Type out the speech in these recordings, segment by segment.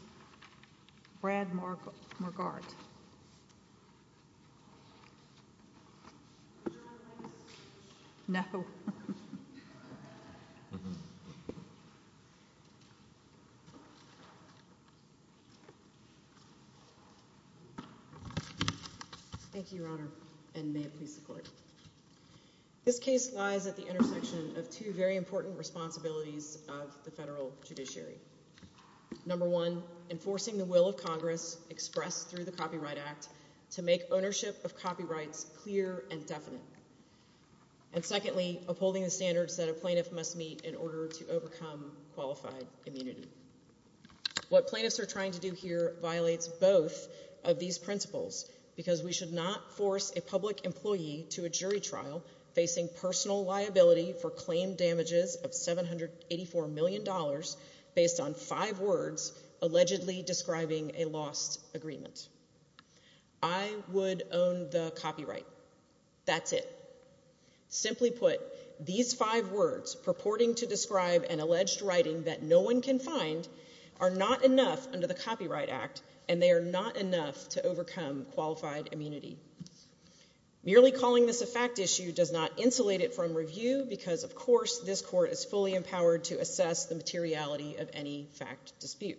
Thank you, Your Honor, and may it please the Court. This case lies at the intersection of two very important responsibilities of the federal One, enforcing the will of Congress, expressed through the Copyright Act, to make ownership of copyrights clear and definite. And secondly, upholding the standards that a plaintiff must meet in order to overcome qualified immunity. What plaintiffs are trying to do here violates both of these principles, because we should not force a public employee to a jury trial facing personal liability for claim damages of $784 million based on five words allegedly describing a lost agreement. I would own the copyright. That's it. Simply put, these five words purporting to describe an alleged writing that no one can find are not enough under the Copyright Act, and they are not enough to overcome qualified immunity. Merely calling this a fact issue does not insulate it from review, because of course this Court is fully empowered to assess the materiality of any fact dispute.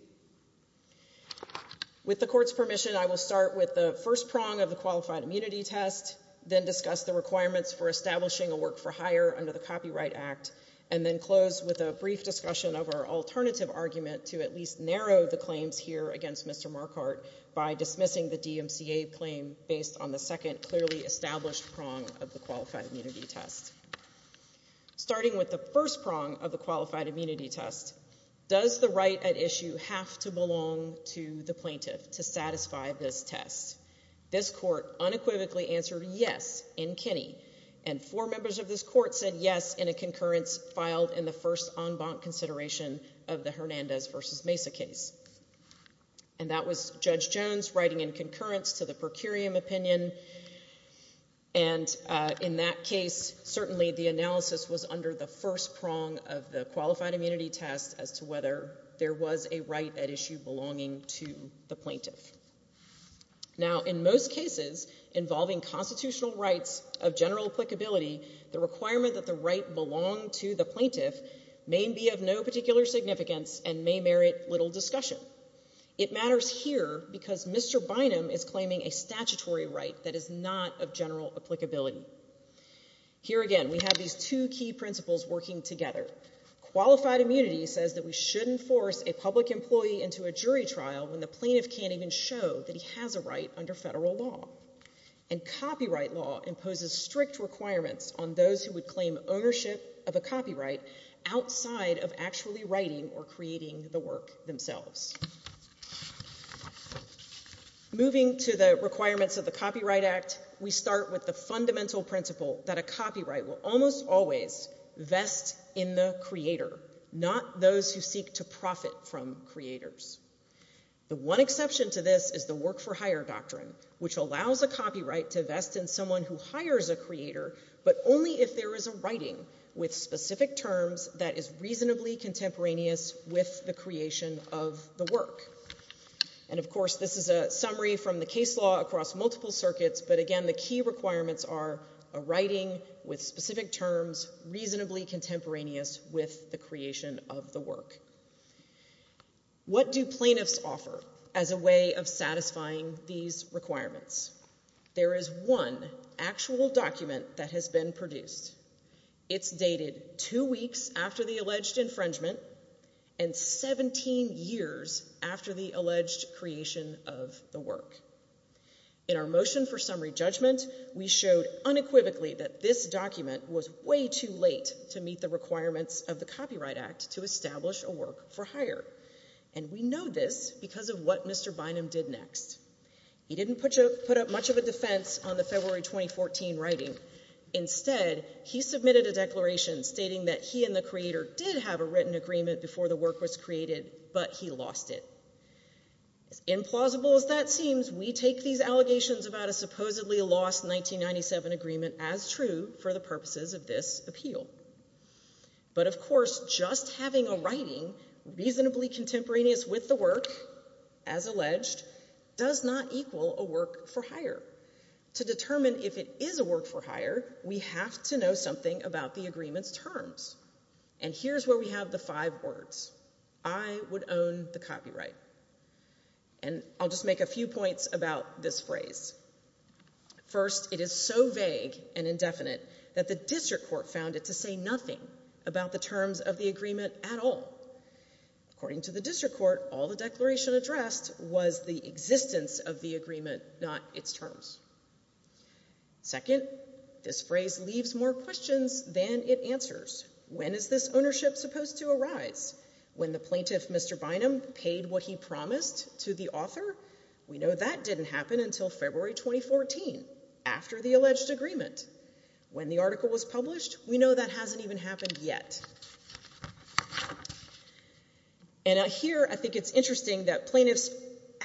With the Court's permission, I will start with the first prong of the Qualified Immunity Test, then discuss the requirements for establishing a work-for-hire under the Copyright Act, and then close with a brief discussion of our alternative argument to at least narrow the claims here against Mr. Marquardt by dismissing the DMCA claim based on the second clearly established prong of the Qualified Immunity Test. Starting with the first prong of the Qualified Immunity Test, does the right at issue have to belong to the plaintiff to satisfy this test? This Court unequivocally answered yes in Kinney, and four members of this Court said yes in a concurrence filed in the first en banc consideration of the Hernandez v. Mesa case. And that was Judge Jones writing in concurrence to the per curiam opinion, and in that case certainly the analysis was under the first prong of the Qualified Immunity Test as to whether there was a right at issue belonging to the plaintiff. Now in most cases involving constitutional rights of general applicability, the requirement that the right belong to the plaintiff may be of no particular significance and may merit little discussion. It matters here because Mr. Bynum is claiming a statutory right that is not of general applicability. Here again we have these two key principles working together. Qualified immunity says that we shouldn't force a public employee into a jury trial when the plaintiff can't even show that he has a right under federal law. And copyright law imposes strict requirements on those who would claim ownership of a copyright outside of actually writing or creating the work themselves. Moving to the requirements of the Copyright Act, we start with the fundamental principle that a copyright will almost always vest in the creator, not those who seek to profit from creators. The one exception to this is the work for hire doctrine, which allows a copyright to vest in someone who hires a creator, but only if there is a writing with specific terms that is reasonably contemporaneous with the creation of the work. And of course this is a summary from the case law across multiple circuits, but again the key requirements are a writing with specific terms reasonably contemporaneous with the creation of the work. What do plaintiffs offer as a way of satisfying these requirements? There is one actual document that has been produced. It's dated two weeks after the alleged infringement and 17 years after the alleged creation of the work. In our motion for summary judgment, we showed unequivocally that this document was way too late to meet the requirements of the Copyright Act to establish a work for hire. And we know this because of what Mr. Bynum did next. He didn't put up much of a defense on the February 2014 writing. Instead, he submitted a declaration stating that he and the creator did have a written agreement before the work was created, but he lost it. As implausible as that seems, we take these allegations about a supposedly lost 1997 agreement as true for the purposes of this appeal. But of course, just having a writing reasonably contemporaneous with the work, as alleged, does not equal a work for hire. To determine if it is a work for hire, we have to know something about the agreement's terms. And here's where we have the five words. I would own the copyright. And I'll just make a few points about this phrase. First, it is so vague and indefinite that the District Court found it to say nothing about the terms of the agreement at all. According to the District Court, all the declaration addressed was the existence of the agreement, not its terms. Second, this phrase leaves more questions than it answers. When is this ownership supposed to arise? When the plaintiff, Mr. Bynum, paid what he promised to the author? We know that didn't happen until February 2014, after the alleged agreement. When the article was published, we know that hasn't even happened yet. And here, I think it's interesting that plaintiffs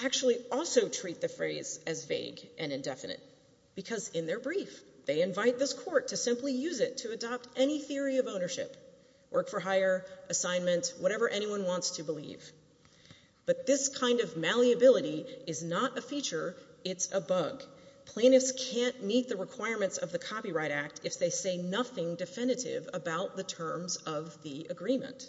actually also treat the phrase as vague and indefinite because in their brief, they invite this court to simply use it to adopt any theory of ownership, work for hire, assignment, whatever anyone wants to believe. But this kind of malleability is not a feature, it's a bug. Plaintiffs can't meet the requirements of the Copyright Act if they say nothing definitive about the terms of the agreement.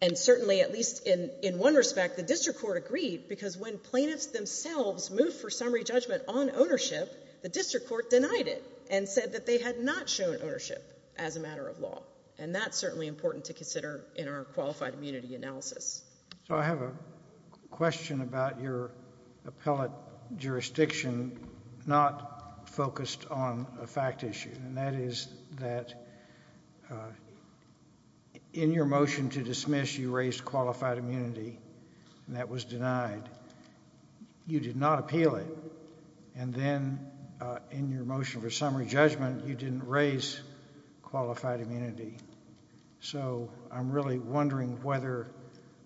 And certainly, at least in one respect, the District Court agreed because when plaintiffs themselves moved for summary judgment on ownership, the District Court denied it and said that they had not shown ownership as a matter of law. And that's certainly important to consider in our qualified immunity analysis. So I have a question about your appellate jurisdiction not focused on a fact issue. And that is that in your motion to dismiss, you raised qualified immunity and that was denied. You did not appeal it. And then, in your motion for summary judgment, you didn't raise qualified immunity. So I'm really wondering whether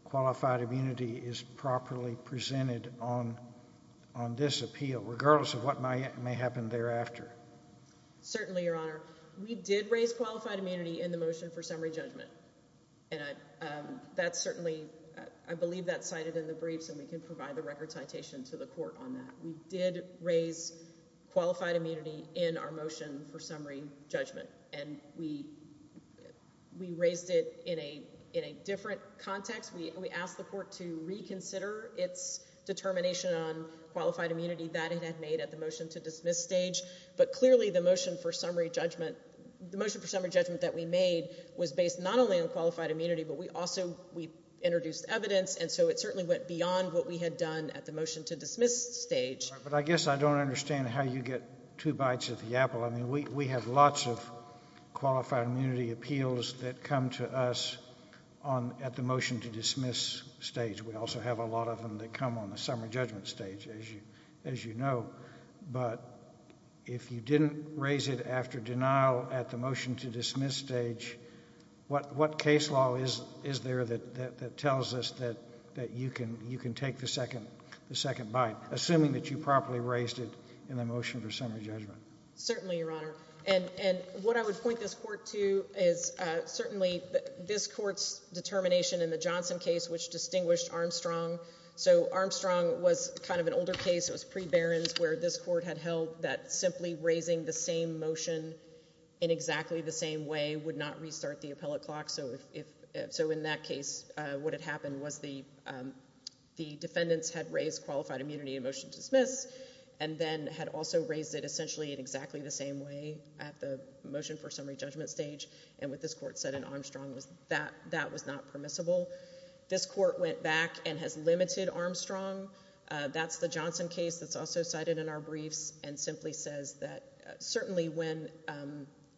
qualified immunity is properly presented on this appeal, regardless of what may happen thereafter. Certainly, Your Honor. We did raise qualified immunity in the motion for summary judgment. And that's certainly, I believe that's cited in the briefs and we can provide the record citation to the court on that. We did raise qualified immunity in our motion for summary judgment. And we raised it in a different context. We asked the court to reconsider its determination on qualified immunity that it had made at the motion to dismiss stage. But clearly, the motion for summary judgment that we made was based not only on qualified immunity, but we also introduced evidence, and so it certainly went beyond what we had done at the motion to dismiss stage. All right. But I guess I don't understand how you get two bites of the apple. I mean, we have lots of qualified immunity appeals that come to us at the motion to dismiss stage. We also have a lot of them that come on the summary judgment stage, as you know. But if you didn't raise it after denial at the motion to dismiss stage, what case law is there that tells us that you can take the second bite, assuming that you properly raised it in the motion for summary judgment? Certainly, Your Honor. And what I would point this court to is certainly this court's determination in the Johnson case, which distinguished Armstrong. So Armstrong was kind of an older case, it was pre-Barron's, where this court had held that simply raising the same motion in exactly the same way would not restart the appellate clock. So in that case, what had happened was the defendants had raised qualified immunity in motion to dismiss, and then had also raised it essentially in exactly the same way at the motion for summary judgment stage. And what this court said in Armstrong was that that was not permissible. This court went back and has limited Armstrong. That's the Johnson case that's also cited in our briefs, and simply says that certainly when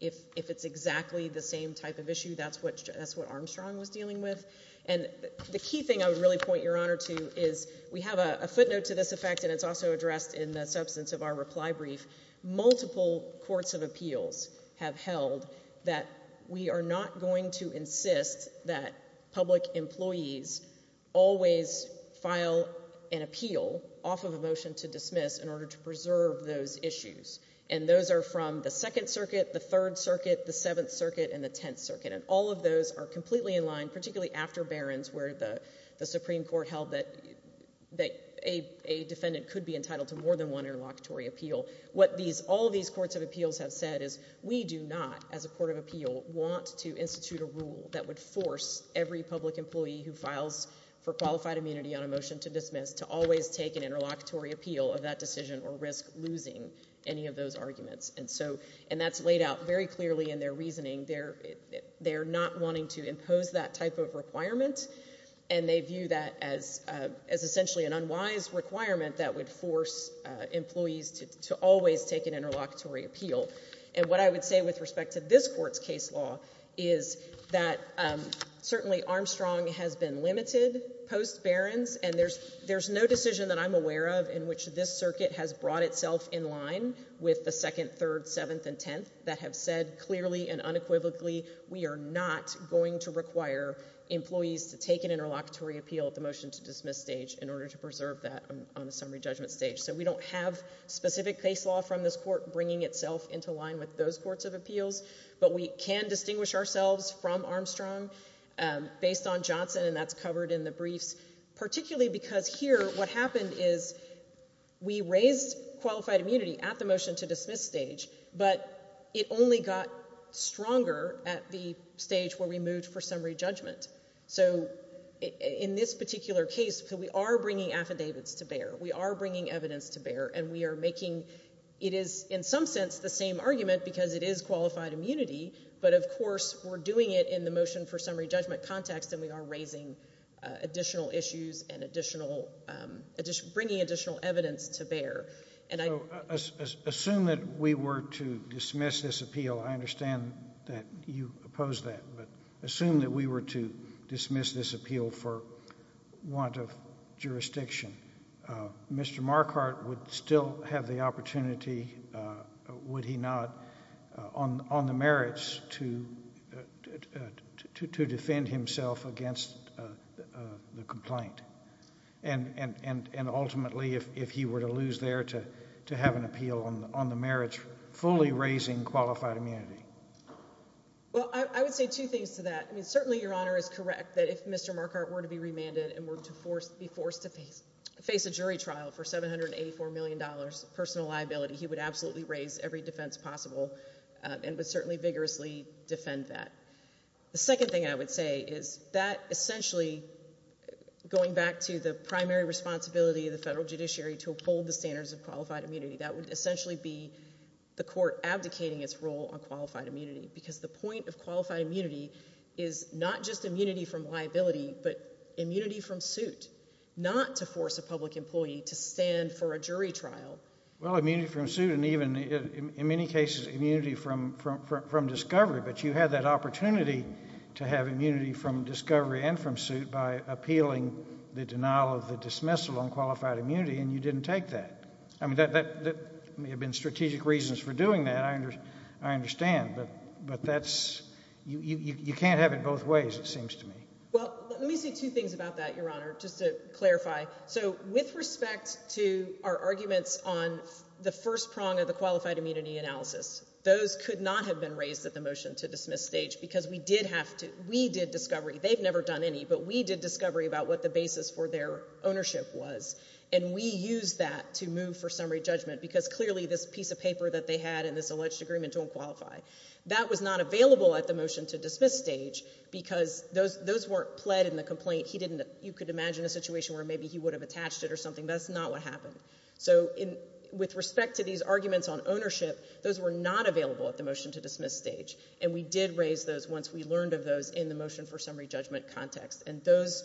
if it's exactly the same type of issue, that's what Armstrong was dealing with. And the key thing I would really point Your Honor to is we have a footnote to this effect, and it's also addressed in the substance of our reply brief. Multiple courts of appeals have held that we are not going to insist that public employees always file an appeal off of a motion to dismiss in order to preserve those issues. And those are from the Second Circuit, the Third Circuit, the Seventh Circuit, and the Tenth Circuit. And all of those are completely in line, particularly after Barron's where the Supreme Court held that a defendant could be entitled to more than one interlocutory appeal. What all of these courts of appeals have said is we do not, as a court of appeal, want to institute a rule that would force every public employee who files for qualified immunity on a motion to dismiss to always take an interlocutory appeal of that decision or risk losing any of those arguments. And that's laid out very clearly in their reasoning. They're not wanting to impose that type of requirement, and they view that as essentially an unwise requirement that would force employees to always take an interlocutory appeal. And what I would say with respect to this Court's case law is that certainly Armstrong has been limited post Barron's, and there's no decision that I'm aware of in which this with the Second, Third, Seventh, and Tenth that have said clearly and unequivocally we are not going to require employees to take an interlocutory appeal at the motion to dismiss stage in order to preserve that on a summary judgment stage. So we don't have specific case law from this Court bringing itself into line with those courts of appeals, but we can distinguish ourselves from Armstrong based on Johnson, and that's covered in the briefs, particularly because here what happened is we raised qualified immunity at the motion to dismiss stage, but it only got stronger at the stage where we moved for summary judgment. So in this particular case, we are bringing affidavits to bear. We are bringing evidence to bear, and we are making it is in some sense the same argument because it is qualified immunity, but of course we're doing it in the motion for summary judgment context, and we are raising additional issues and bringing additional evidence to bear. So assume that we were to dismiss this appeal, I understand that you oppose that, but assume that we were to dismiss this appeal for want of jurisdiction, Mr. Marquardt would still have the opportunity, would he not, on the merits to defend himself against the complaint, and ultimately if he were to lose there to have an appeal on the merits fully raising qualified immunity? Well, I would say two things to that. Certainly Your Honor is correct that if Mr. Marquardt were to be remanded and were to be forced to face a jury trial for $784 million personal liability, he would absolutely raise every defense possible and would certainly vigorously defend that. The second thing I would say is that essentially going back to the primary responsibility of the federal judiciary to uphold the standards of qualified immunity, that would essentially be the court abdicating its role on qualified immunity because the point of qualified immunity is not just immunity from liability, but immunity from suit, not to force a public employee to stand for a jury trial. Well, immunity from suit and even in many cases immunity from discovery, but you had that opportunity to have immunity from discovery and from suit by appealing the denial of the dismissal on qualified immunity and you didn't take that. I mean, that may have been strategic reasons for doing that, I understand, but that's, you can't have it both ways it seems to me. Well, let me say two things about that, Your Honor, just to clarify. So with respect to our arguments on the first prong of the qualified immunity analysis, those could not have been raised at the motion to dismiss stage because we did have to, we did discovery, they've never done any, but we did discovery about what the basis for their ownership was and we used that to move for summary judgment because clearly this piece of paper that they had in this alleged agreement don't qualify. That was not available at the motion to dismiss stage because those weren't pled in the complaint. He didn't, you could imagine a situation where maybe he would have attached it or something. That's not what happened. So with respect to these arguments on ownership, those were not available at the motion to dismiss stage and we did raise those once we learned of those in the motion for summary judgment context and those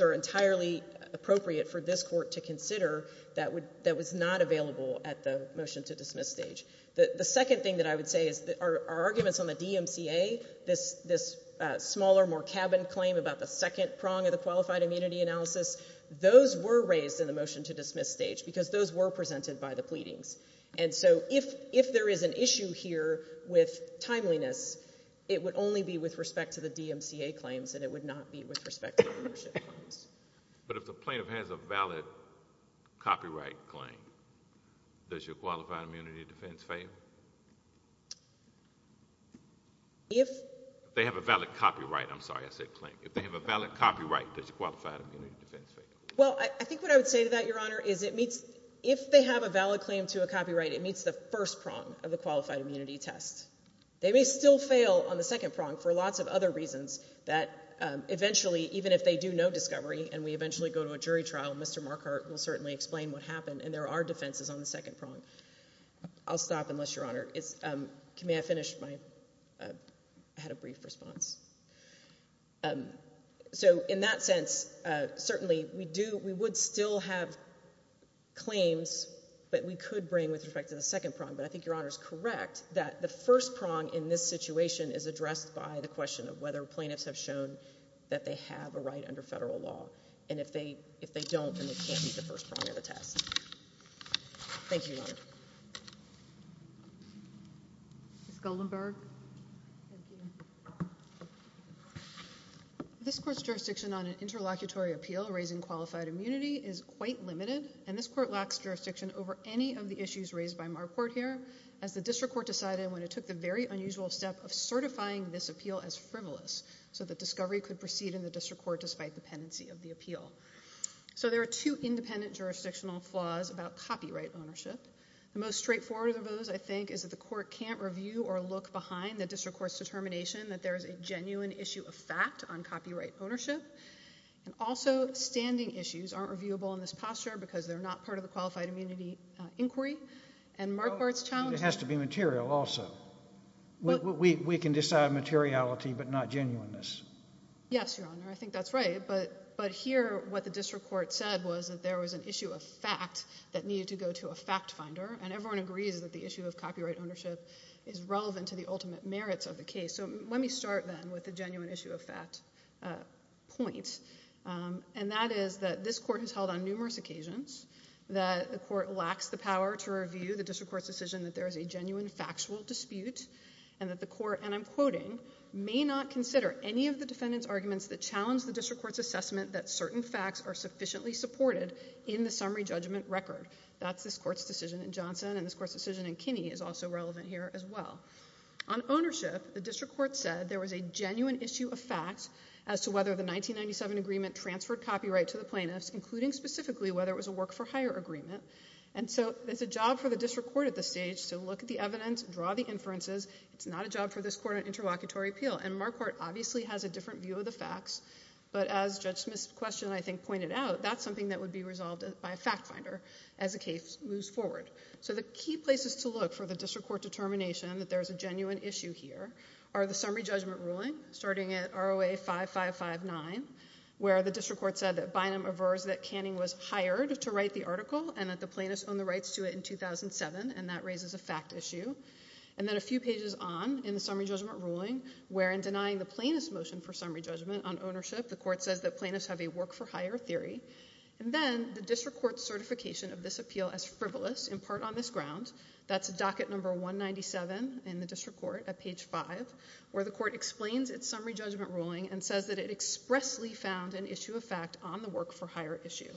are entirely appropriate for this court to consider that was not available at the motion to dismiss stage. The second thing that I would say is our arguments on the DMCA, this smaller, more cabin claim about the second prong of the qualified immunity analysis, those were raised in the motion to dismiss stage because those were presented by the pleadings and so if, if there is an issue here with timeliness, it would only be with respect to the DMCA claims and it would not be with respect to the ownership claims. But if the plaintiff has a valid copyright claim, does your qualified immunity defense fail? If they have a valid copyright, I'm sorry I said claim, if they have a valid copyright, does your qualified immunity defense fail? Well, I think what I would say to that, Your Honor, is it meets, if they have a valid claim to a copyright, it meets the first prong of the qualified immunity test. They may still fail on the second prong for lots of other reasons that eventually, even if they do no discovery and we eventually go to a jury trial, Mr. Marquardt will certainly explain what happened and there are defenses on the second prong. I'll stop unless, Your Honor, it's, can I finish my, I had a brief response. So, in that sense, certainly, we do, we would still have claims that we could bring with respect to the second prong, but I think Your Honor is correct that the first prong in this situation is addressed by the question of whether plaintiffs have shown that they have a right under federal law and if they, if they don't, then it can't be the first prong of the test. Thank you, Your Honor. Ms. Goldenberg. Thank you. This court's jurisdiction on an interlocutory appeal raising qualified immunity is quite limited and this court lacks jurisdiction over any of the issues raised by Marquardt here as the district court decided when it took the very unusual step of certifying this appeal as frivolous so that discovery could proceed in the district court despite dependency of the appeal. So, there are two independent jurisdictional flaws about copyright ownership. The most straightforward of those, I think, is that the court can't review or look behind the district court's determination that there is a genuine issue of fact on copyright ownership and also, standing issues aren't reviewable in this posture because they're not part of the qualified immunity inquiry and Marquardt's challenge... It has to be material also. We can decide materiality but not genuineness. Yes, Your Honor. I think that's right, but here what the district court said was that there was an issue of fact that needed to go to a fact finder and everyone agrees that the issue of copyright merits of the case. So, let me start then with the genuine issue of fact point and that is that this court has held on numerous occasions that the court lacks the power to review the district court's decision that there is a genuine factual dispute and that the court, and I'm quoting, may not consider any of the defendant's arguments that challenge the district court's assessment that certain facts are sufficiently supported in the summary judgment record. That's this court's decision in Johnson and this court's decision in Kinney is also relevant here as well. On ownership, the district court said there was a genuine issue of fact as to whether the 1997 agreement transferred copyright to the plaintiffs, including specifically whether it was a work-for-hire agreement. And so, it's a job for the district court at this stage to look at the evidence, draw the inferences. It's not a job for this court on interlocutory appeal and Marquardt obviously has a different view of the facts, but as Judge Smith's question, I think, pointed out, that's something that would be resolved by a fact finder as the case moves forward. So the key places to look for the district court determination that there's a genuine issue here are the summary judgment ruling, starting at ROA 5559, where the district court said that Bynum aversed that Canning was hired to write the article and that the plaintiffs owned the rights to it in 2007, and that raises a fact issue. And then a few pages on in the summary judgment ruling, where in denying the plaintiff's motion for summary judgment on ownership, the court says that plaintiffs have a work-for-hire theory. And then, the district court's certification of this appeal as frivolous, in part on this ground, that's docket number 197 in the district court at page 5, where the court explains its summary judgment ruling and says that it expressly found an issue of fact on the work-for-hire issue.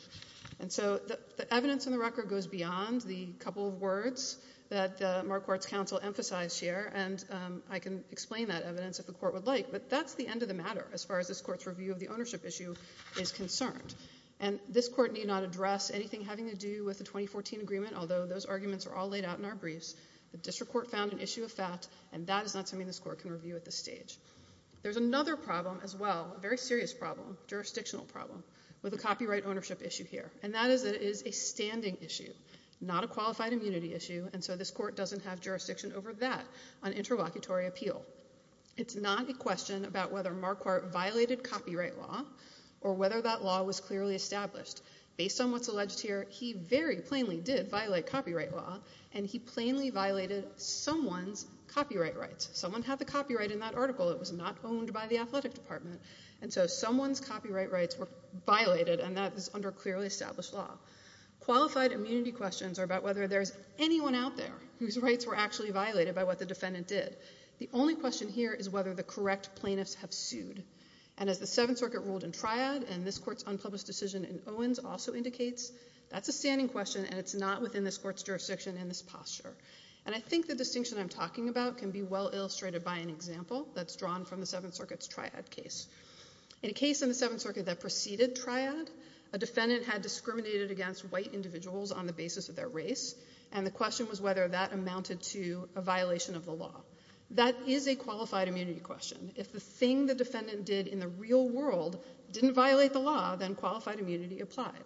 And so, the evidence in the record goes beyond the couple of words that Marquardt's counsel emphasized here, and I can explain that evidence if the court would like, but that's the end of the matter as far as this court's review of the ownership issue is concerned. And this court need not address anything having to do with the 2014 agreement, although those arguments are all laid out in our briefs. The district court found an issue of fact, and that is not something this court can review at this stage. There's another problem as well, a very serious problem, jurisdictional problem, with a copyright ownership issue here, and that is that it is a standing issue, not a qualified immunity issue, and so this court doesn't have jurisdiction over that on interlocutory appeal. It's not a question about whether Marquardt violated copyright law, or whether that law was clearly established. Based on what's alleged here, he very plainly did violate copyright law, and he plainly violated someone's copyright rights. Someone had the copyright in that article, it was not owned by the athletic department, and so someone's copyright rights were violated, and that is under clearly established law. Qualified immunity questions are about whether there's anyone out there whose rights were actually violated by what the defendant did. The only question here is whether the correct plaintiffs have sued, and as the Seventh Circuit ruled in triad, and this court's unpublished decision in Owens also indicates, that's a standing question, and it's not within this court's jurisdiction in this posture, and I think the distinction I'm talking about can be well illustrated by an example that's drawn from the Seventh Circuit's triad case. In a case in the Seventh Circuit that preceded triad, a defendant had discriminated against white individuals on the basis of their race, and the question was whether that amounted to a violation of the law. That is a qualified immunity question. If the thing the defendant did in the real world didn't violate the law, then qualified immunity applied.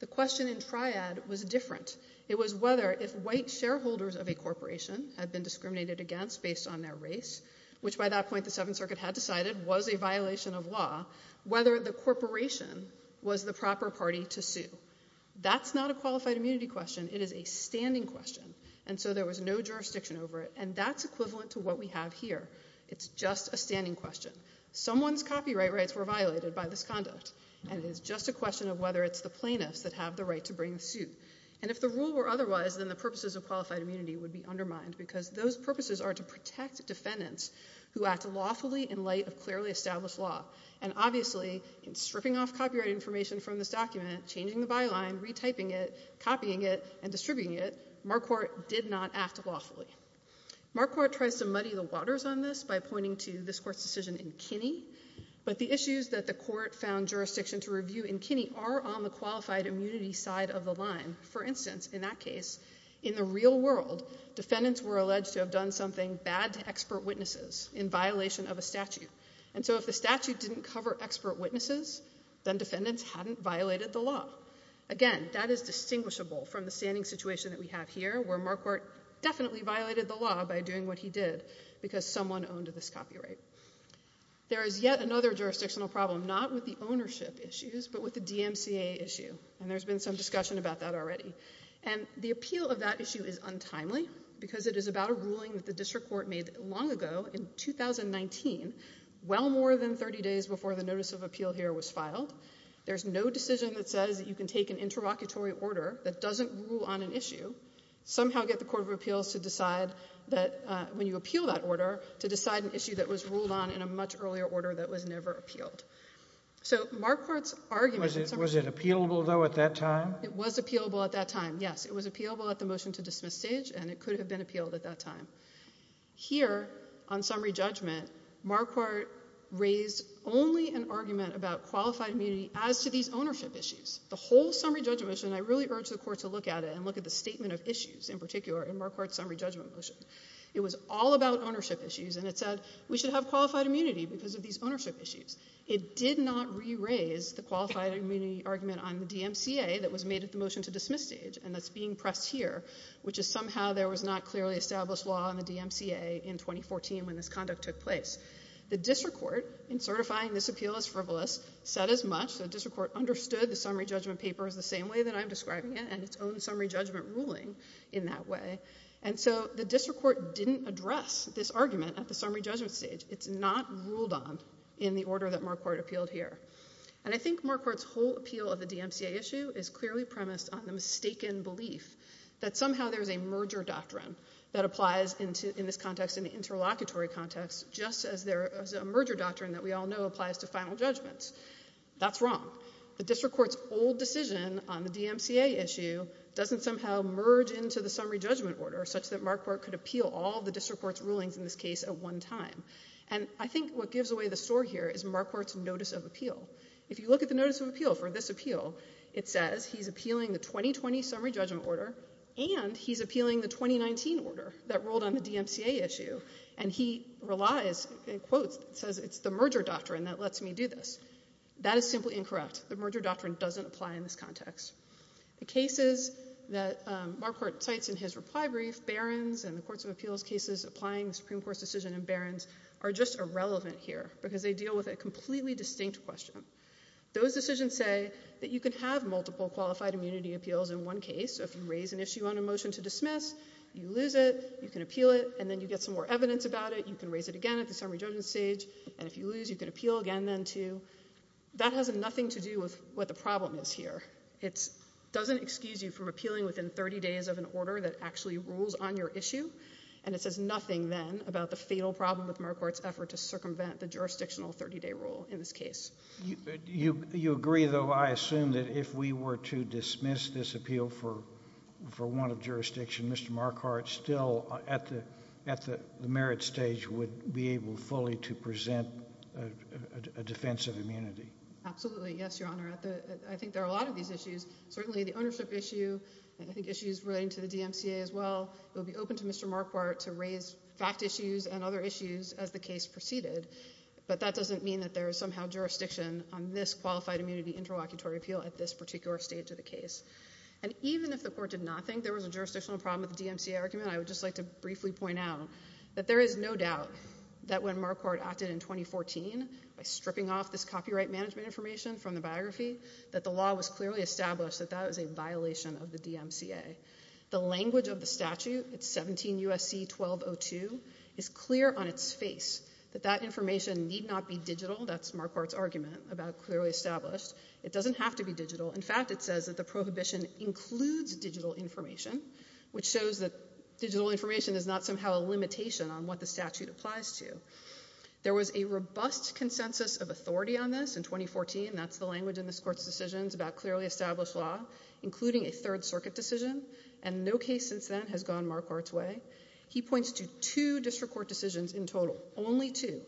The question in triad was different. It was whether if white shareholders of a corporation had been discriminated against based on their race, which by that point the Seventh Circuit had decided was a violation of law, whether the corporation was the proper party to sue. That's not a qualified immunity question, it is a standing question, and so there was no jurisdiction over it, and that's equivalent to what we have here. It's just a standing question. Someone's copyright rights were violated by this conduct, and it is just a question of whether it's the plaintiffs that have the right to bring the suit. And if the rule were otherwise, then the purposes of qualified immunity would be undermined, because those purposes are to protect defendants who act lawfully in light of clearly established law. And obviously, in stripping off copyright information from this document, changing the Marquardt tries to muddy the waters on this by pointing to this court's decision in Kinney, but the issues that the court found jurisdiction to review in Kinney are on the qualified immunity side of the line. For instance, in that case, in the real world, defendants were alleged to have done something bad to expert witnesses in violation of a statute. And so if the statute didn't cover expert witnesses, then defendants hadn't violated the law. Again, that is distinguishable from the standing situation that we have here, where Marquardt definitely violated the law by doing what he did, because someone owned this copyright. There is yet another jurisdictional problem, not with the ownership issues, but with the DMCA issue, and there's been some discussion about that already. And the appeal of that issue is untimely, because it is about a ruling that the district court made long ago in 2019, well more than 30 days before the notice of appeal here was filed. There's no decision that says that you can take an interlocutory order that doesn't rule on an issue, somehow get the Court of Appeals to decide that, when you appeal that order, to decide an issue that was ruled on in a much earlier order that was never appealed. So Marquardt's argument... Was it appealable, though, at that time? It was appealable at that time, yes. It was appealable at the motion to dismiss stage, and it could have been appealed at that time. Here, on summary judgment, Marquardt raised only an argument about qualified immunity as to these ownership issues. The whole summary judgment motion, I really urge the Court to look at it, and look at the statement of issues, in particular, in Marquardt's summary judgment motion. It was all about ownership issues, and it said, we should have qualified immunity because of these ownership issues. It did not re-raise the qualified immunity argument on the DMCA that was made at the motion to dismiss stage, and that's being pressed here, which is somehow there was not clearly established law on the DMCA in 2014 when this conduct took place. The district court, in certifying this appeal as frivolous, said as much, the district court understood the summary judgment paper as the same way that I'm describing it, and its own summary judgment ruling in that way, and so the district court didn't address this argument at the summary judgment stage. It's not ruled on in the order that Marquardt appealed here, and I think Marquardt's whole appeal of the DMCA issue is clearly premised on the mistaken belief that somehow there is a merger doctrine that applies in this context, in the interlocutory context, just as there is a merger doctrine that we all know applies to final judgments. That's wrong. The district court's old decision on the DMCA issue doesn't somehow merge into the summary judgment order such that Marquardt could appeal all the district court's rulings in this case at one time, and I think what gives away the story here is Marquardt's notice of appeal. If you look at the notice of appeal for this appeal, it says he's appealing the 2020 summary judgment order, and he's appealing the 2019 order that ruled on the DMCA issue, and he relies, in quotes, it says it's the merger doctrine that lets me do this. That is simply incorrect. The merger doctrine doesn't apply in this context. The cases that Marquardt cites in his reply brief, Barron's and the courts of appeals cases applying the Supreme Court's decision in Barron's, are just irrelevant here because they deal with a completely distinct question. Those decisions say that you can have multiple qualified immunity appeals in one case. If you raise an issue on a motion to dismiss, you lose it, you can appeal it, and then you get some more evidence about it. You can raise it again at the summary judgment stage, and if you lose, you can appeal again then too. That has nothing to do with what the problem is here. It doesn't excuse you from appealing within 30 days of an order that actually rules on your issue, and it says nothing then about the fatal problem with Marquardt's effort to circumvent the jurisdictional 30-day rule in this case. You agree, though, I assume, that if we were to dismiss this appeal for want of jurisdiction, Mr. Marquardt still, at the merit stage, would be able fully to present a defense of immunity. Absolutely. Yes, Your Honor. I think there are a lot of these issues, certainly the ownership issue, and I think issues relating to the DMCA as well. It would be open to Mr. Marquardt to raise fact issues and other issues as the case proceeded, but that doesn't mean that there is somehow jurisdiction on this qualified immunity interlocutory appeal at this particular stage of the case. And even if the Court did not think there was a jurisdictional problem with the DMCA argument, I would just like to briefly point out that there is no doubt that when Marquardt acted in 2014, by stripping off this copyright management information from the biography, that the law was clearly established that that was a violation of the DMCA. The language of the statute, it's 17 U.S.C. 1202, is clear on its face that that information need not be digital. That's Marquardt's argument about clearly established. It doesn't have to be digital. In fact, it says that the prohibition includes digital information, which shows that digital information is not somehow a limitation on what the statute applies to. There was a robust consensus of authority on this in 2014, and that's the language in this Court's decisions about clearly established law, including a Third Circuit decision, and no case since then has gone Marquardt's way. He points to two district court decisions in total, only two.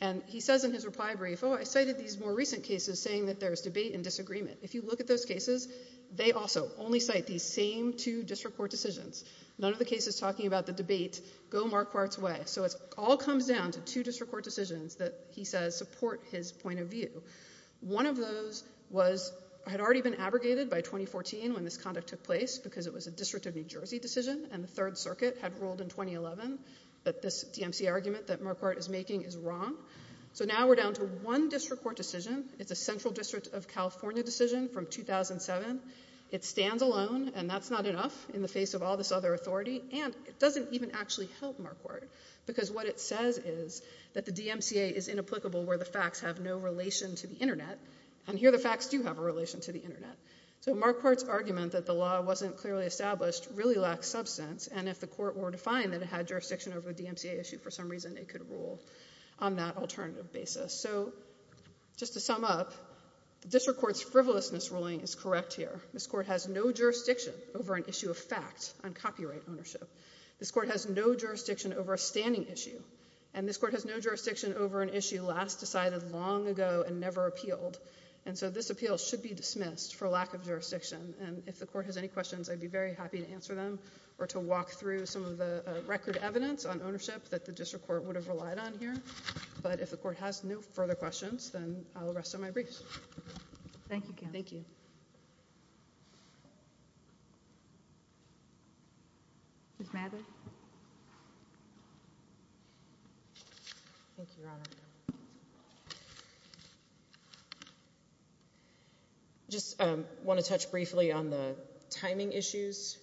And he says in his reply brief, oh, I cited these more recent cases saying that there is debate and disagreement. If you look at those cases, they also only cite these same two district court decisions. None of the cases talking about the debate go Marquardt's way. So it all comes down to two district court decisions that he says support his point of view. One of those was, had already been abrogated by 2014 when this conduct took place because it was a District of New Jersey decision, and the Third Circuit had ruled in 2011 that this DMCA argument that Marquardt is making is wrong. So now we're down to one district court decision. It's a Central District of California decision from 2007. It stands alone, and that's not enough in the face of all this other authority. And it doesn't even actually help Marquardt, because what it says is that the DMCA is inapplicable where the facts have no relation to the Internet, and here the facts do have a relation to the Internet. So Marquardt's argument that the law wasn't clearly established really lacks substance, and if the Court were to find that it had jurisdiction over the DMCA issue, for some reason it could rule on that alternative basis. So just to sum up, the District Court's frivolousness ruling is correct here. This Court has no jurisdiction over an issue of fact on copyright ownership. This Court has no jurisdiction over a standing issue, and this Court has no jurisdiction over an issue last decided long ago and never appealed. And so this appeal should be dismissed for lack of jurisdiction, and if the Court has any questions, I'd be very happy to answer them or to walk through some of the record evidence on ownership that the District Court would have relied on here. But if the Court has no further questions, then I'll rest on my briefs. Thank you, counsel. Thank you. Ms. Mather? Thank you, Your Honor. I just want to touch briefly on the timing issues.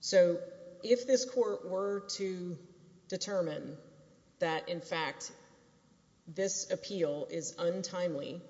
So, if this Court were to determine that, in fact, this appeal is untimely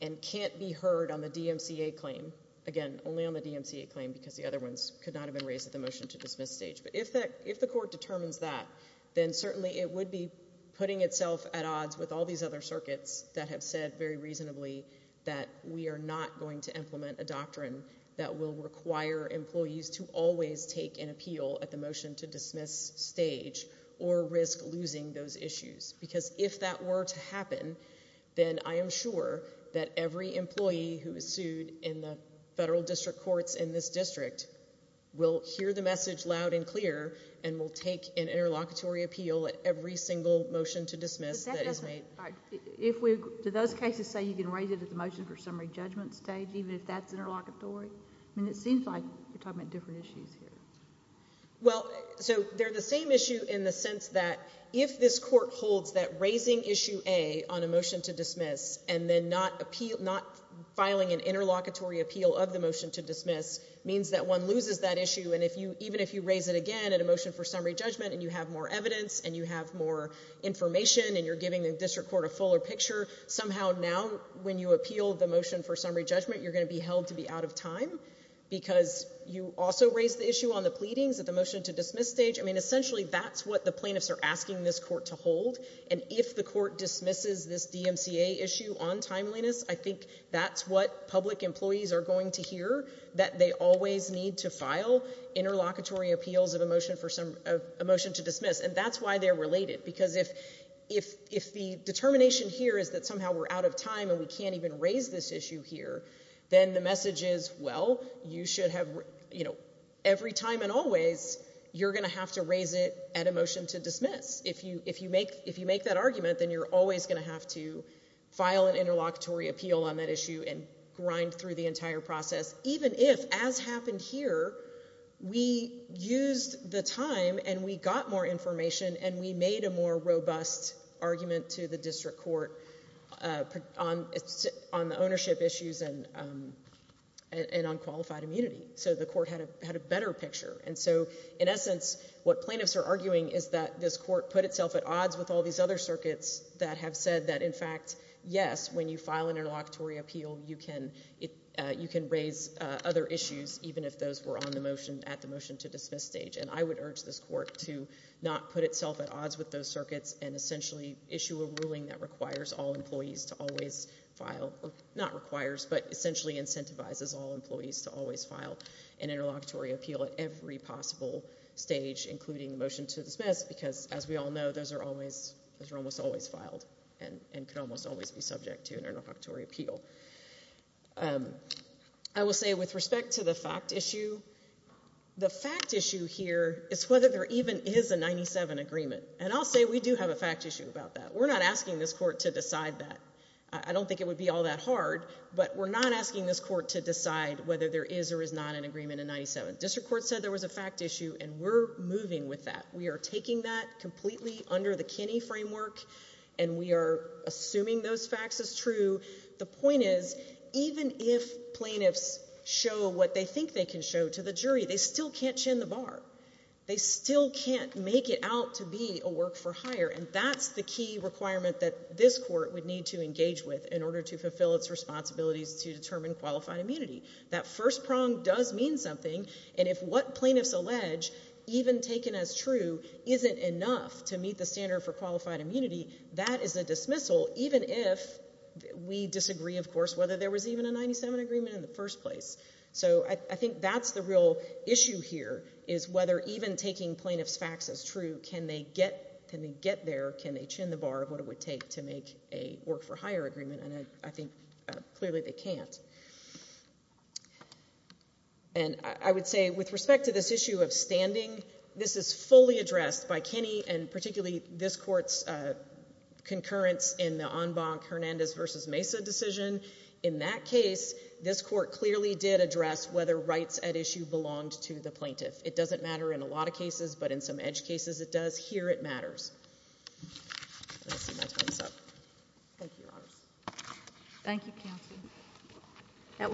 and can't be heard on the DMCA claim, again, only on the DMCA claim because the other ones could not have been raised at the motion-to-dismiss stage, but if the Court determines that, then certainly it would be putting itself at odds with all these other circuits that have said very reasonably that we are not going to implement a doctrine that will require employees to always take an appeal at the motion-to-dismiss stage or risk losing those issues. Because if that were to happen, then I am sure that every employee who is sued in the federal district courts in this district will hear the message loud and clear and will take an interlocutory appeal at every single motion-to-dismiss that is made. Do those cases say you can raise it at the motion-for-summary judgment stage, even if that is interlocutory? I mean, it seems like you are talking about different issues here. Well, so, they are the same issue in the sense that if this Court holds that raising issue A on a motion-to-dismiss and then not filing an interlocutory appeal of the motion-to-dismiss means that one loses that issue, and even if you raise it again at a motion-for-summary judgment and you have more evidence and you have more information and you are giving the court a fuller picture, somehow now when you appeal the motion-for-summary judgment, you are going to be held to be out of time because you also raised the issue on the pleadings at the motion-to-dismiss stage. I mean, essentially, that is what the plaintiffs are asking this Court to hold, and if the Court dismisses this DMCA issue on timeliness, I think that is what public employees are going to hear, that they always need to file interlocutory appeals of a motion-to-dismiss, and that is why they are related, because if the determination here is that somehow we are out of time and we cannot even raise this issue here, then the message is, well, you should have, you know, every time and always, you are going to have to raise it at a motion-to-dismiss. If you make that argument, then you are always going to have to file an interlocutory appeal on that issue and grind through the entire process, even if, as happened here, we used the time and we got more information and we made a more robust argument to the District Court on the ownership issues and on qualified immunity, so the Court had a better picture. And so, in essence, what plaintiffs are arguing is that this Court put itself at odds with all these other circuits that have said that, in fact, yes, when you file an interlocutory appeal, you can raise other issues, even if those were on the motion, at the motion-to-dismiss stage, and I would urge this Court to not put itself at odds with those circuits and essentially issue a ruling that requires all employees to always file, or not requires, but essentially incentivizes all employees to always file an interlocutory appeal at every possible stage, including the motion-to-dismiss, because, as we all know, those are almost always filed and can almost always be subject to an interlocutory appeal. I will say, with respect to the fact issue, the fact issue here is whether there even is a 97 agreement, and I'll say we do have a fact issue about that. We're not asking this Court to decide that. I don't think it would be all that hard, but we're not asking this Court to decide whether there is or is not an agreement in 97. District Court said there was a fact issue, and we're moving with that. We are taking that completely under the Kinney framework, and we are assuming those facts as true. The point is, even if plaintiffs show what they think they can show to the jury, they still can't chin the bar. They still can't make it out to be a work-for-hire, and that's the key requirement that this Court would need to engage with in order to fulfill its responsibilities to determine qualified immunity. That first prong does mean something, and if what plaintiffs allege even taken as true isn't enough to meet the standard for qualified immunity, that is a dismissal, even if we disagree, of course, whether there was even a 97 agreement in the first place. So I think that's the real issue here, is whether even taking plaintiffs' facts as true, can they get there, can they chin the bar of what it would take to make a work-for-hire And I would say, with respect to this issue of standing, this is fully addressed by Kinney and particularly this Court's concurrence in the Enbanque-Hernandez v. Mesa decision. In that case, this Court clearly did address whether rights at issue belonged to the plaintiff. It doesn't matter in a lot of cases, but in some EDGE cases it does. Here it matters. Let's see my time's up. That will do it. Thank you.